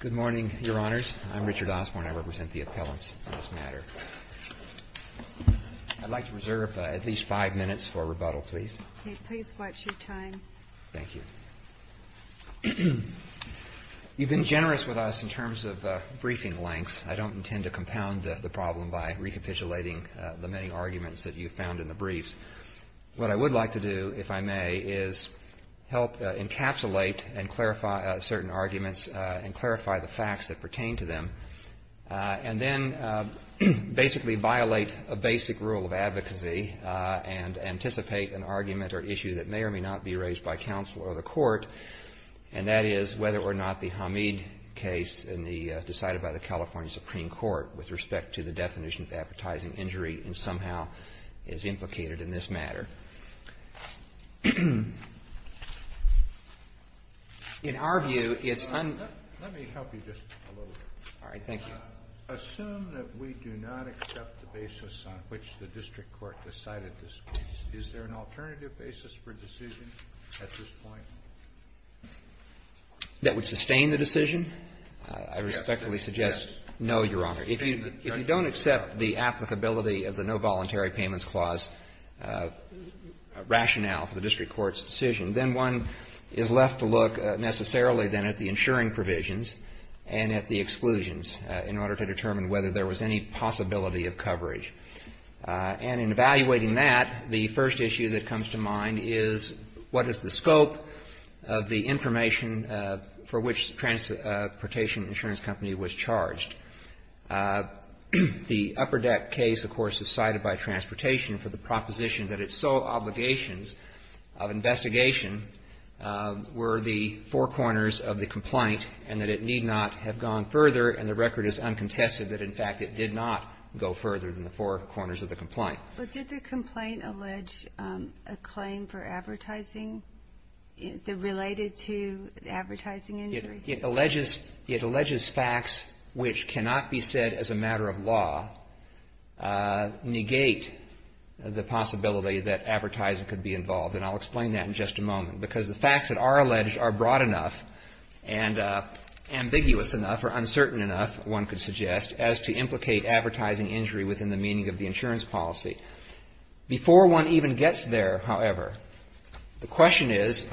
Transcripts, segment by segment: Good morning, Your Honors. I'm Richard Osborne. I represent the appellants in this matter. I'd like to reserve at least five minutes for rebuttal, please. Okay. Please watch your time. Thank you. You've been generous with us in terms of briefing lengths. I don't intend to compound the problem by recapitulating the many arguments that you've found in the briefs. What I would like to do, if I may, is help encapsulate and clarify certain arguments and clarify the facts that pertain to them, and then basically violate a basic rule of advocacy and anticipate an argument or issue that may or may not be raised by counsel or the court, and that is whether or not the Hamid case decided by the California Supreme Court with respect to the definition of advertising injury and somehow is implicated in this matter. In our view, it's un- Let me help you just a little bit. All right. Thank you. Assume that we do not accept the basis on which the district court decided this case. Is there an alternative basis for decision at this point? That would sustain the decision? I respectfully suggest no, Your Honor. If you don't accept the applicability of the No Voluntary Payments Clause rationale for the district court's decision, then one is left to look necessarily then at the insuring provisions and at the exclusions in order to determine whether there was any possibility of coverage. And in evaluating that, the first issue that comes to mind is what is the The Upper Deck case, of course, is cited by Transportation for the proposition that its sole obligations of investigation were the four corners of the complaint and that it need not have gone further, and the record is uncontested that, in fact, it did not go further than the four corners of the complaint. But did the complaint allege a claim for advertising related to advertising injury? It alleges facts which cannot be said as a matter of law negate the possibility that advertising could be involved, and I'll explain that in just a moment, because the facts that are alleged are broad enough and ambiguous enough or uncertain enough, one could suggest, as to implicate advertising injury within the meaning of the insurance policy. Before one even gets there, however, the question is,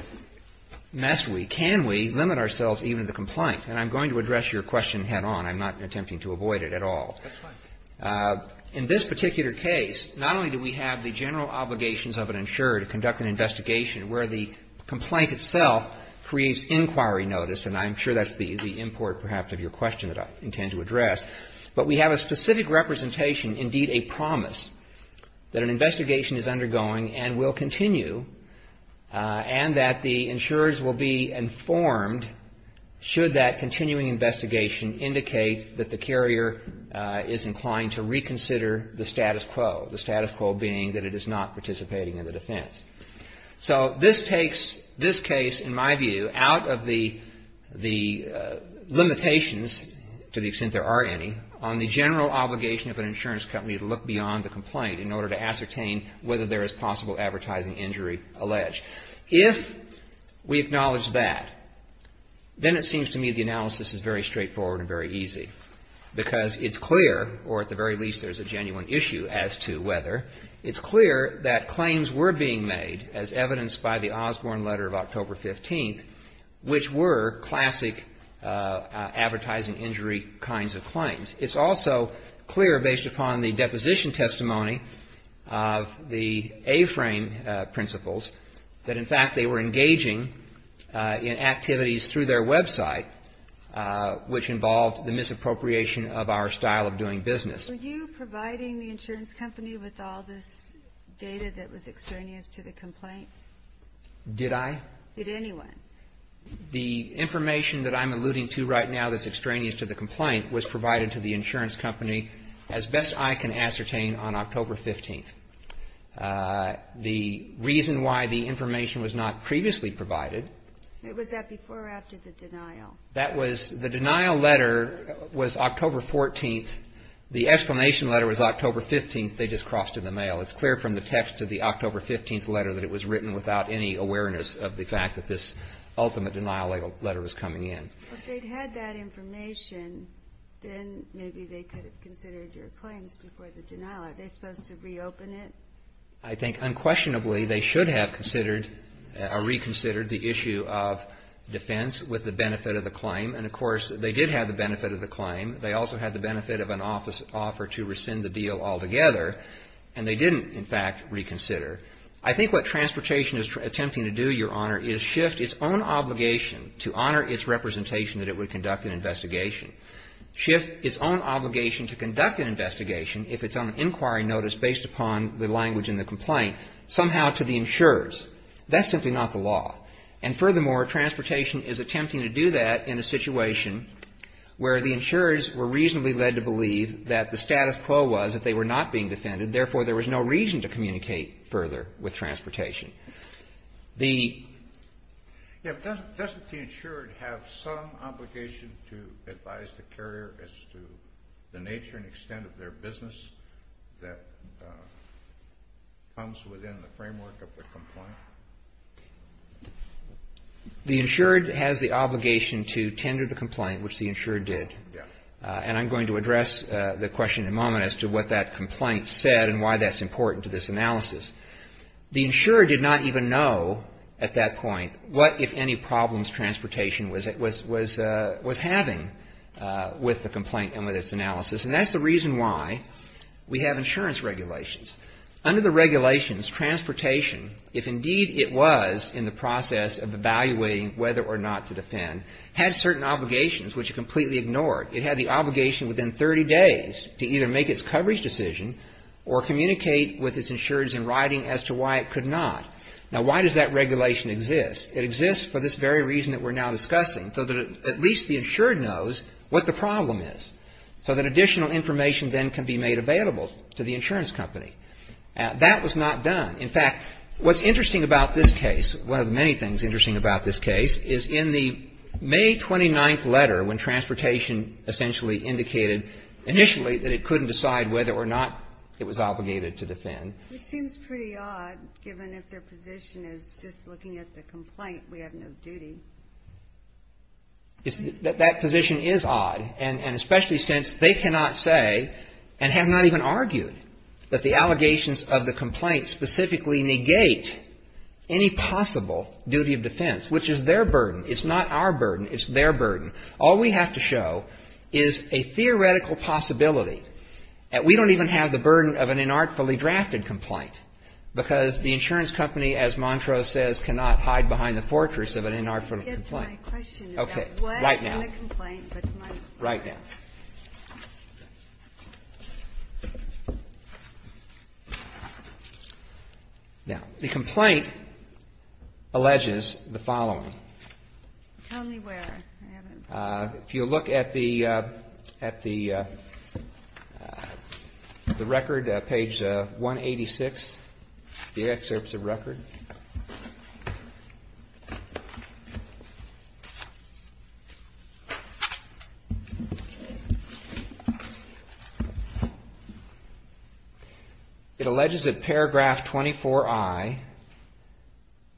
must we? Can we limit ourselves even to the complaint? And I'm going to address your question head-on. I'm not attempting to avoid it at all. In this particular case, not only do we have the general obligations of an insurer to conduct an investigation where the complaint itself creates inquiry notice, and I'm sure that's the import, perhaps, of your question that I intend to address, but we have a specific representation, indeed a promise, that an investigation is undergoing and will continue, and that the insurers will be informed should that continuing investigation indicate that the carrier is inclined to reconsider the status quo, the status quo being that it is not participating in the defense. So this takes this case, in my view, out of the limitations, to the extent there are any, on the general obligation of an insurance company to look beyond the complaint in order to ascertain whether there is possible advertising injury alleged. If we acknowledge that, then it seems to me the analysis is very straightforward and very easy, because it's clear, or at the very least there's a genuine issue as to whether, it's clear that claims were being made, as evidenced by the Osborne letter of October 15th, which were classic advertising injury kinds of claims. It's also clear, based upon the deposition testimony of the A-frame principles, that in fact they were engaging in activities through their website, which involved the misappropriation of our style of doing business. Were you providing the insurance company with all this data that was extraneous to the complaint? Did I? Did anyone? The information that I'm alluding to right now that's extraneous to the complaint was provided to the insurance company, as best I can ascertain, on October 15th. The reason why the information was not previously provided. Was that before or after the denial? That was, the denial letter was October 14th. The exclamation letter was October 15th. They just crossed in the mail. It's clear from the text of the October 15th letter that it was written without any awareness of the fact that this ultimate denial letter was coming in. If they'd had that information, then maybe they could have considered your claims before the denial. Are they supposed to reopen it? I think unquestionably they should have considered or reconsidered the issue of defense with the benefit of the claim. And, of course, they did have the benefit of the claim. They also had the benefit of an offer to rescind the deal altogether. And they didn't, in fact, reconsider. I think what transportation is attempting to do, Your Honor, is shift its own obligation to honor its representation that it would conduct an investigation, shift its own obligation to conduct an investigation, if it's on inquiry notice based upon the language in the complaint, somehow to the insurers. That's simply not the law. And, furthermore, transportation is attempting to do that in a situation where the insurers were reasonably led to believe that the status quo was that they were not being defended, therefore, there was no reason to communicate further with transportation. Yes, but doesn't the insured have some obligation to advise the carrier as to the nature and extent of their business that comes within the framework of the complaint? The insured has the obligation to tender the complaint, which the insured did. And I'm going to address the question in a moment as to what that complaint said and why that's important to this analysis. The insurer did not even know at that point what, if any, problems transportation was having with the complaint and with its analysis. And that's the reason why we have insurance regulations. Under the regulations, transportation, if indeed it was in the process of evaluating whether or not to defend, had certain obligations which it completely ignored, it had the obligation within 30 days to either make its coverage decision or communicate with its insurers in writing as to why it could not. Now, why does that regulation exist? It exists for this very reason that we're now discussing, so that at least the insured knows what the problem is. So that additional information then can be made available to the insurance company. That was not done. In fact, what's interesting about this case, one of the many things interesting about this case, is in the May 29th letter when transportation essentially indicated initially that it couldn't decide whether or not it was obligated to defend. It seems pretty odd, given if their position is just looking at the complaint, we have no duty. That position is odd, and especially since they cannot say, and have not even argued, that the allegations of the complaint specifically negate any possible duty of defense, which is their burden. It's not our burden. It's their burden. All we have to show is a theoretical possibility that we don't even have the burden of an inartfully drafted complaint, because the insurance company, as Montrose says, cannot hide behind the fortress of an inartful complaint. Right now. Now, the complaint alleges the following. If you look at the record, page 186, the excerpts of record, the complaint alleges the following. It alleges at paragraph 24I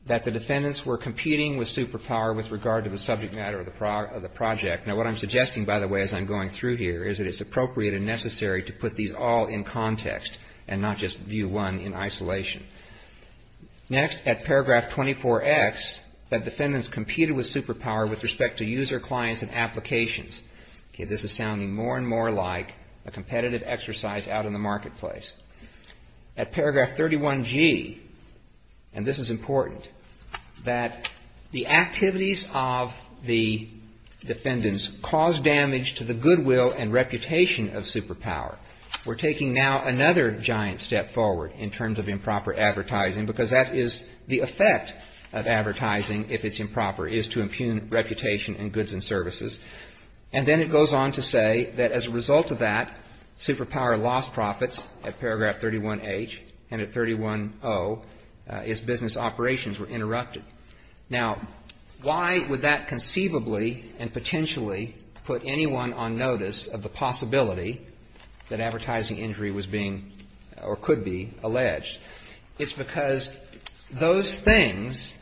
that the defendants were competing with superpower with regard to the subject matter of the project. Now, what I'm suggesting, by the way, as I'm going through here, is that it's appropriate and necessary to put these all in context, and not just view one in isolation. Next, at paragraph 24X, that defendants competed with superpower with respect to user clients and applications. Okay, this is sounding more and more like a competitive exercise out in the marketplace. At paragraph 31G, and this is important, that the activities of the defendants cause damage to the goodwill and reputation of improper advertising, because that is the effect of advertising, if it's improper, is to impugn reputation and goods and services. And then it goes on to say that as a result of that, superpower lost profits at paragraph 31H, and at 31O, its business operations were interrupted. Now, why would that conceivably and potentially put anyone on notice of the possibility of improper advertising? It's because those things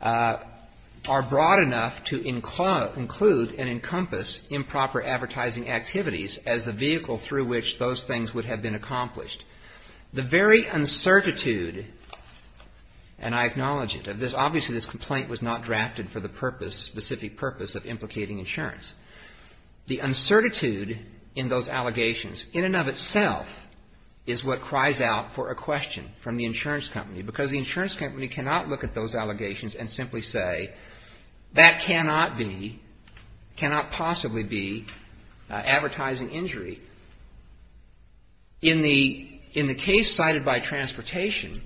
are broad enough to include and encompass improper advertising activities as the vehicle through which those things would have been accomplished. The very uncertitude, and I acknowledge it, obviously this complaint was not drafted for the purpose, specific purpose of implicating insurance. The uncertitude in those allegations, in and of itself, is what cries out for a question. It's a question from the insurance company, because the insurance company cannot look at those allegations and simply say, that cannot be, cannot possibly be advertising injury. In the case cited by Transportation,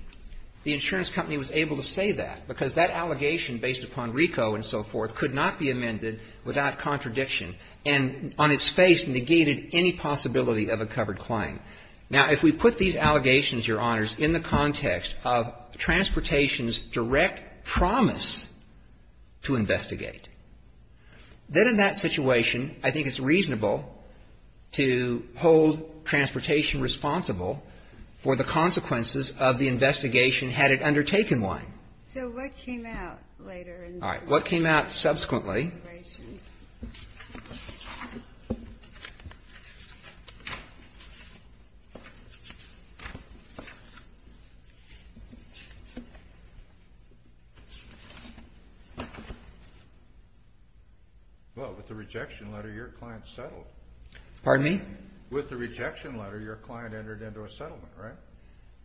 the insurance company was able to say that, because that allegation based upon RICO and so forth could not be amended without contradiction, and on its face negated any possibility of a covered claim. Now, if we put these allegations, Your Honors, in the context of Transportation's direct promise to investigate, then in that situation, I think it's reasonable to hold Transportation responsible for the consequences of the investigation, had it undertaken one. Well, with the rejection letter, your client settled. Pardon me? With the rejection letter, your client entered into a settlement, right?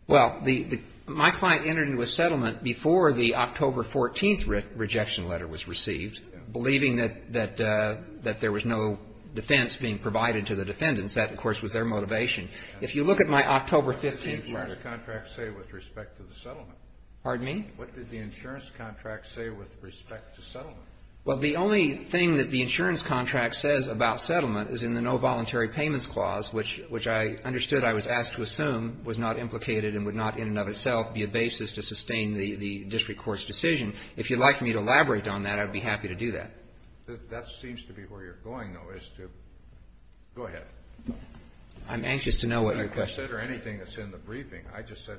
Well, my client entered into a settlement before the October 14th rejection letter was received, believing that there was no defense in the settlement. What did the insurance contract say with respect to the settlement? Well, the only thing that the insurance contract says about settlement is in the No Voluntary Payments Clause, which I understood I was asked to assume was not implicated and would not, in and of itself, be a basis to sustain the district court's decision. If you'd like me to elaborate on that, I'd be happy to do that. That seems to be where you're going, though, is to go ahead. I'm anxious to know what your question is. You can consider anything that's in the briefing. I just said,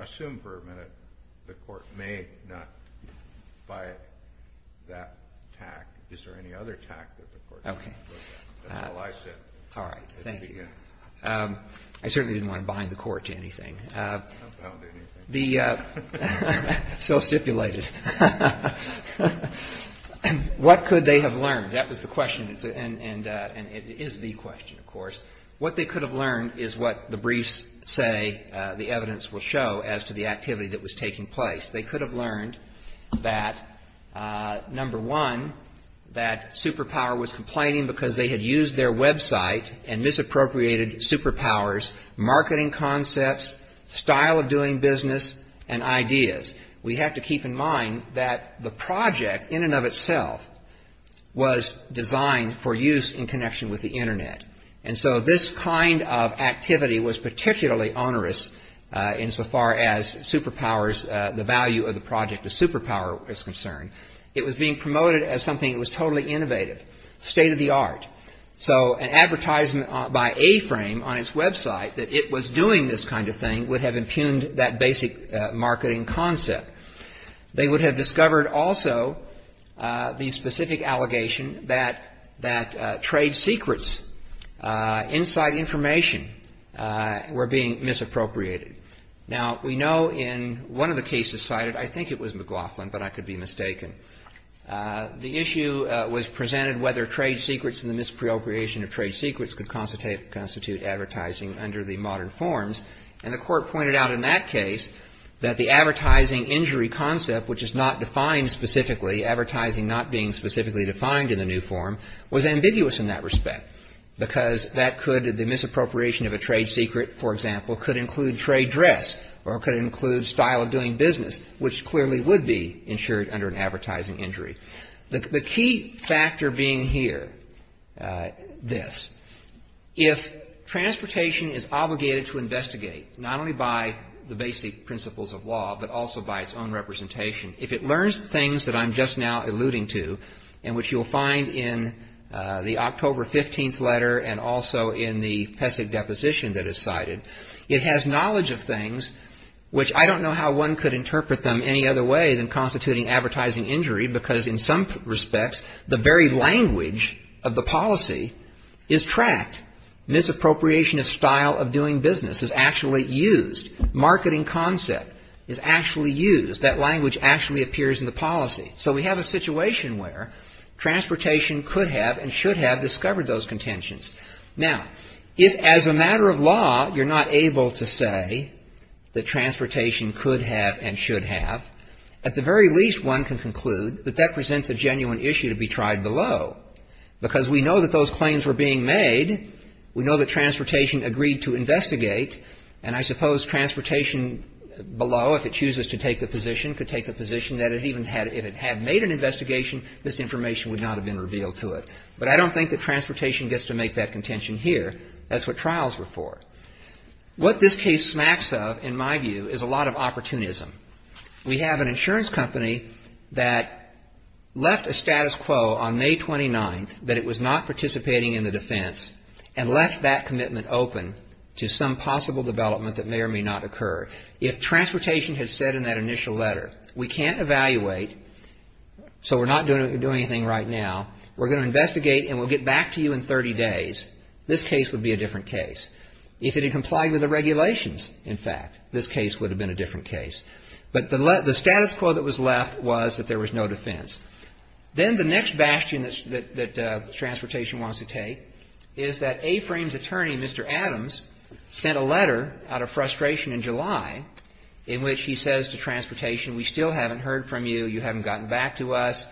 assume for a minute the court may not buy that tack. Is there any other tack that the court may not buy? That's all I said at the beginning. I certainly didn't want to bind the court to anything. What could they have learned? That was the question, and it is the question, of course. What they could have learned is what the briefs say, the evidence will show, as to the activity that was taking place. They could have learned that, number one, that Superpower was complaining because they had used their website and misappropriated Superpower's marketing concepts, style of doing business, and ideas. We have to keep in mind that the project, in and of itself, was designed for use in connection with the Internet. And so this kind of activity was particularly onerous insofar as Superpower's, the value of the project to Superpower was concerned. It was being promoted as something that was totally innovative, state of the art. So an advertisement by A-Frame on its website that it was doing this kind of thing would have impugned that basic marketing concept. They would have discovered also the specific allegation that trade secrets inside information were being misappropriated. Now, we know in one of the cases cited, I think it was McLaughlin, but I could be mistaken, the issue was presented whether trade secrets and the misappropriation of trade secrets could constitute advertising under the modern forms. And the court pointed out in that case that the advertising injury concept, which is not defined specifically, advertising not being specifically defined in the new form, was ambiguous in that respect. Because that could, the misappropriation of a trade secret, for example, could include trade dress or could include style of doing business, which clearly would be insured under an advertising injury. The key factor being here, this. It's something that you have to investigate, not only by the basic principles of law, but also by its own representation. If it learns things that I'm just now alluding to, and which you'll find in the October 15th letter and also in the PESC deposition that is cited, it has knowledge of things which I don't know how one could interpret them any other way than constituting advertising injury. Because in some respects, the very language of the policy is tracked. Misappropriation of style of doing business is actually used. Marketing concept is actually used. That language actually appears in the policy. So we have a situation where transportation could have and should have discovered those contentions. Now, if, as a matter of law, you're not able to say that transportation could have and should have, at the very least, one can conclude that that presents a genuine issue to be tried below. We know that transportation agreed to investigate, and I suppose transportation below, if it chooses to take the position, could take the position that if it had made an investigation, this information would not have been revealed to it. But I don't think that transportation gets to make that contention here. That's what trials were for. What this case smacks of, in my view, is a lot of opportunism. We have an insurance company that left a status quo on May 29th, that it was not participating in the defense, and left that commitment open to some possible development that may or may not occur. If transportation had said in that initial letter, we can't evaluate, so we're not doing anything right now, we're going to investigate and we'll get back to you in 30 days, this case would be a different case. If it had complied with the regulations, in fact, this case would have been a different case. But the status quo that was left was that there was no defense. Then the next bastion that transportation wants to take is that A-Frame's attorney, Mr. Adams, sent a letter out of frustration in July, in which he says to transportation, we still haven't heard from you, you haven't gotten back to us,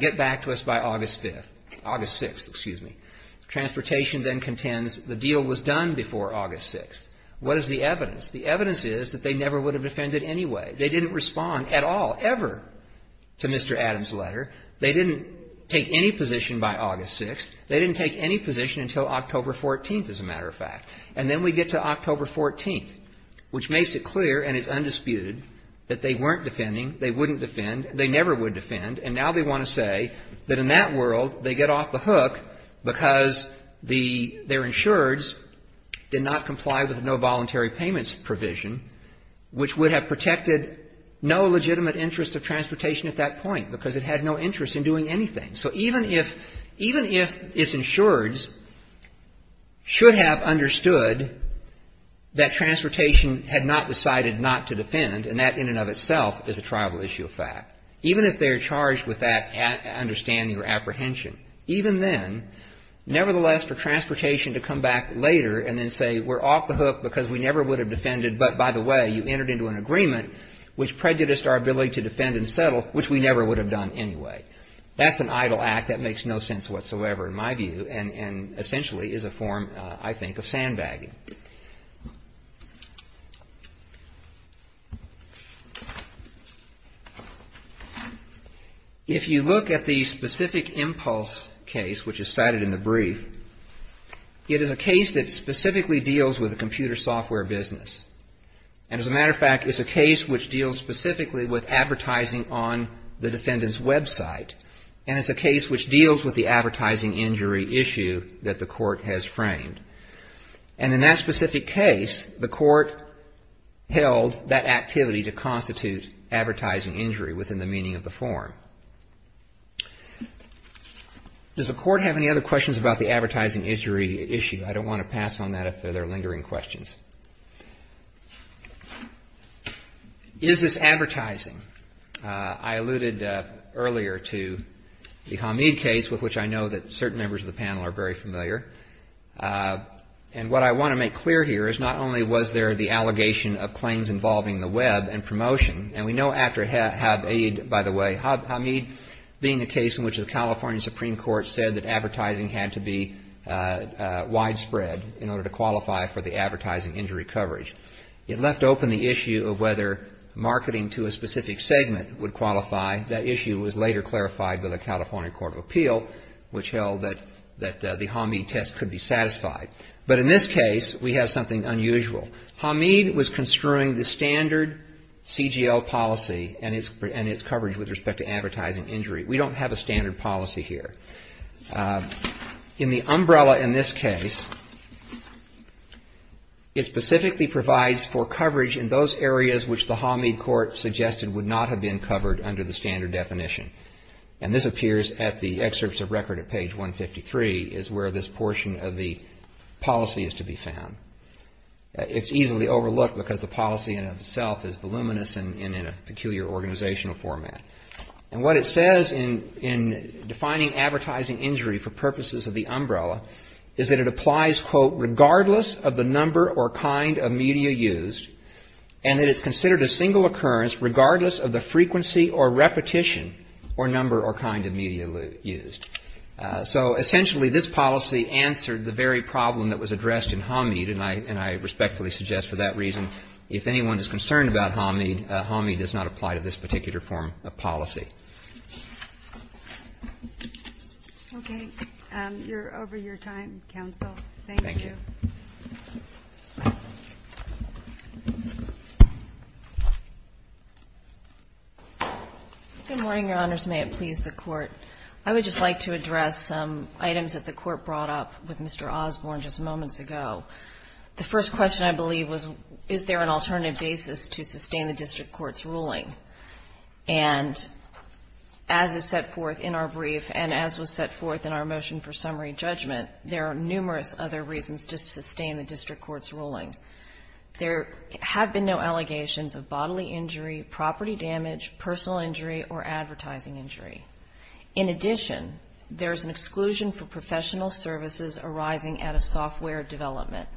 get back to us by August 5th, August 6th, excuse me, transportation then contends the deal was done before August 6th. What is the evidence? The evidence is that they never would have defended anyway, they didn't respond at all, ever, to Mr. Adams' letter, they didn't take any position by August 6th, they didn't take any position until October 14th, as a matter of fact. And then we get to October 14th, which makes it clear and is undisputed that they weren't defending, they wouldn't defend, they never would defend, and now they want to say that in that world, they get off the hook because their insureds did not comply with no voluntary payments provision, which would have protected no legitimate interest of transportation at that point, because it had no interest in doing anything. So even if its insureds should have understood that transportation had not decided not to defend, and that in and of itself is a primal issue of fact, even if they are charged with that understanding or apprehension, even then, nevertheless for transportation to come back later and then say we're off the hook because we never would have defended, but by the way, you entered into an agreement which prejudiced our ability to defend and settle, which we never would have done anyway. That's an idle act that makes no sense whatsoever in my view, and essentially is a form, I think, of sandbagging. If you look at the specific impulse case, which is cited in the brief, it is a case that specifically deals with a computer software business, and as a matter of fact, it's a case which deals specifically with advertising on the defendant's website, and it's a case which deals with the advertising injury issue that the court has framed, and in that specific case, the court held that activity to be an advertising injury within the meaning of the form. Does the court have any other questions about the advertising injury issue? I don't want to pass on that if there are lingering questions. Is this advertising? I alluded earlier to the Hamid case, with which I know that certain members of the panel are very familiar, and what I want to make clear here is not only was there the allegation of claims involving the web and promotion, and we know after Hamid, by the way, Hamid being a case in which the California Supreme Court said that advertising had to be widespread in order to qualify for the advertising injury coverage. It left open the issue of whether marketing to a specific segment would qualify. That issue was later clarified by the California Court of Appeal, which held that the Hamid test could be satisfied. But in this case, we have something unusual. Hamid was construing the standard CGL policy and its coverage with respect to advertising injury. We don't have a standard policy here. In the umbrella in this case, it specifically provides for coverage in those areas which the Hamid court suggested would not have been covered under the standard definition. And this appears at the excerpts of record at page 153 is where this portion of the policy is to be found. It's easily overlooked because the policy in itself is voluminous and in a peculiar organizational format. And what it says in defining advertising injury for purposes of the umbrella is that it applies, quote, regardless of the number or kind of media used, and that it's considered a single occurrence regardless of the frequency of the media used. It's a policy or repetition or number or kind of media used. So essentially, this policy answered the very problem that was addressed in Hamid, and I respectfully suggest for that reason, if anyone is concerned about Hamid, Hamid does not apply to this particular form of policy. Okay. You're over your time, counsel. Good morning, Your Honors. May it please the Court. I would just like to address some items that the Court brought up with Mr. Osborne just moments ago. The first question, I believe, was is there an alternative basis to sustain the district court's ruling? And as is set forth in our brief and as was set forth in our motion for summary judgment, there are numerous other reasons to sustain the district court's ruling. First, there is an exclusion for professional injury or advertising injury. In addition, there is an exclusion for professional services arising out of software development.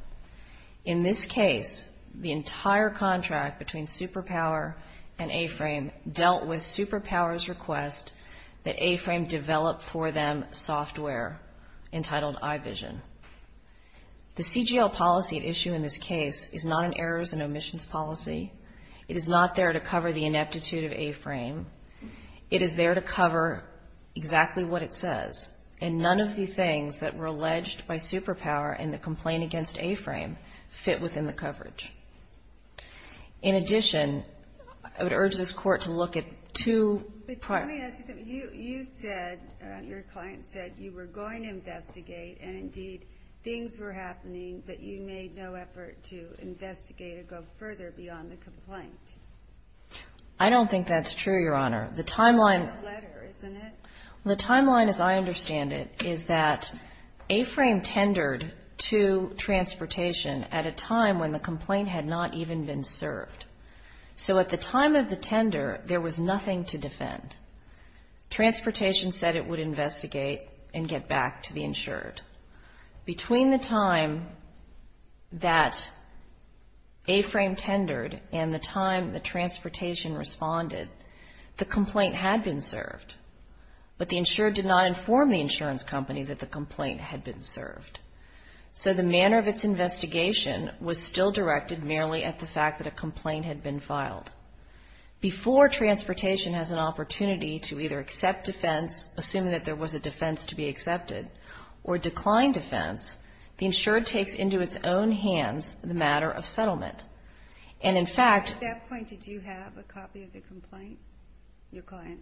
In this case, the entire contract between Superpower and A-Frame dealt with Superpower's request that A-Frame develop for them software entitled iVision. The CGL policy at issue in this case is not an errors and omissions policy. It is not there to cover the ineptitude of A-Frame. It is there to cover exactly what it says, and none of the things that were alleged by Superpower in the complaint against A-Frame fit within the coverage. In addition, I would urge this Court to look at two prior... But let me ask you something. You said, your client said you were going to investigate and, indeed, things were happening, but you made no effort to investigate or go further beyond the complaint. I don't think that's true, Your Honor. The timeline... No letter, isn't it? The timeline as I understand it is that A-Frame tendered to Transportation at a time when the complaint had not even been served. So at the time of the tender, there was nothing to defend. Transportation said it would investigate and get back to the insured. Between the time that A-Frame tendered and the time that Transportation responded, the complaint had been served, but the insured did not inform the insurance company that the complaint had been served. So the manner of its investigation was still directed merely at the fact that a complaint had been filed. Before Transportation has an opportunity to either accept defense, assuming that there was a defense to be accepted, or decline defense, the insured takes into its own hands the matter of settlement. And, in fact... At that point, did you have a copy of the complaint? Your client?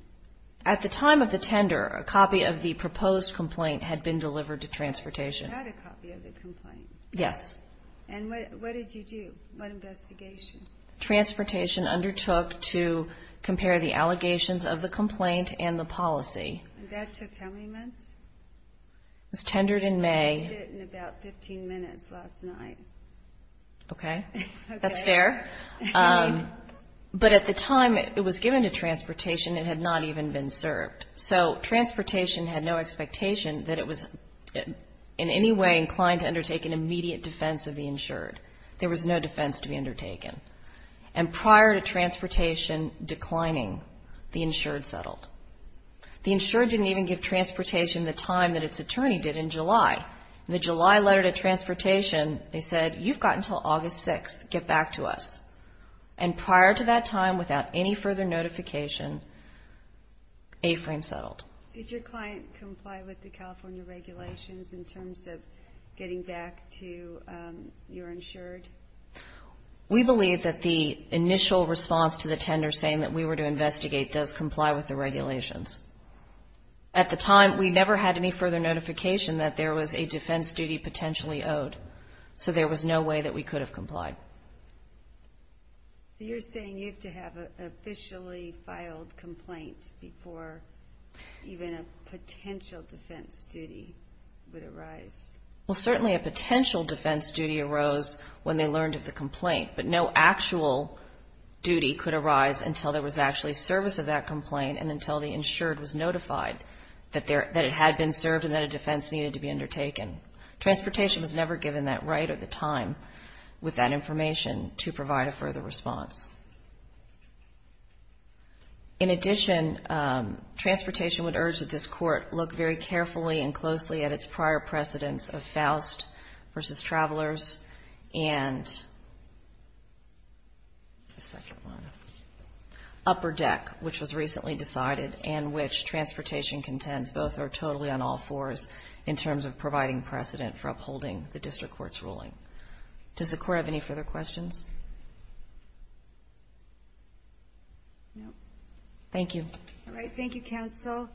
At the time of the tender, a copy of the proposed complaint had been delivered to Transportation. You had a copy of the complaint? Yes. And what did you do? What investigation? Transportation undertook to compare the allegations of the complaint and the policy. And that took how many months? It was tendered in May. Okay. That's fair. But at the time it was given to Transportation, it had not even been served. So Transportation had no expectation that it was in any way inclined to undertake an immediate defense of the insured. There was no defense to be undertaken. And prior to Transportation declining, the insured settled. The insured didn't even give Transportation the time that its attorney did in July. In the July letter to Transportation, they said, you've got until August 6th. Get back to us. And prior to that time, without any further notification, A-Frame settled. Did your client comply with the California regulations in terms of getting back to your insured? We believe that the initial response to the tender saying that we were to investigate does comply with the regulations. At the time, we never had any further notification that there was a defense duty potentially owed. So there was no way that we could have complied. So you're saying you have to have an officially filed complaint before even a potential defense duty would arise? Well, certainly a potential defense duty arose when they learned of the complaint, but no actual duty could arise until there was actually service of that complaint and until the insured was notified that it had been served and that a defense needed to be undertaken. Transportation was never given that right at the time with that information to provide a further response. In addition, Transportation would urge that this Court look very carefully and closely at its prior precedents and its precedents of Faust v. Travelers and the second one, Upper Deck, which was recently decided and which Transportation contends both are totally on all fours in terms of providing precedent for upholding the District Court's ruling. Does the Court have any further questions? Thank you. All right. Thank you, Counsel.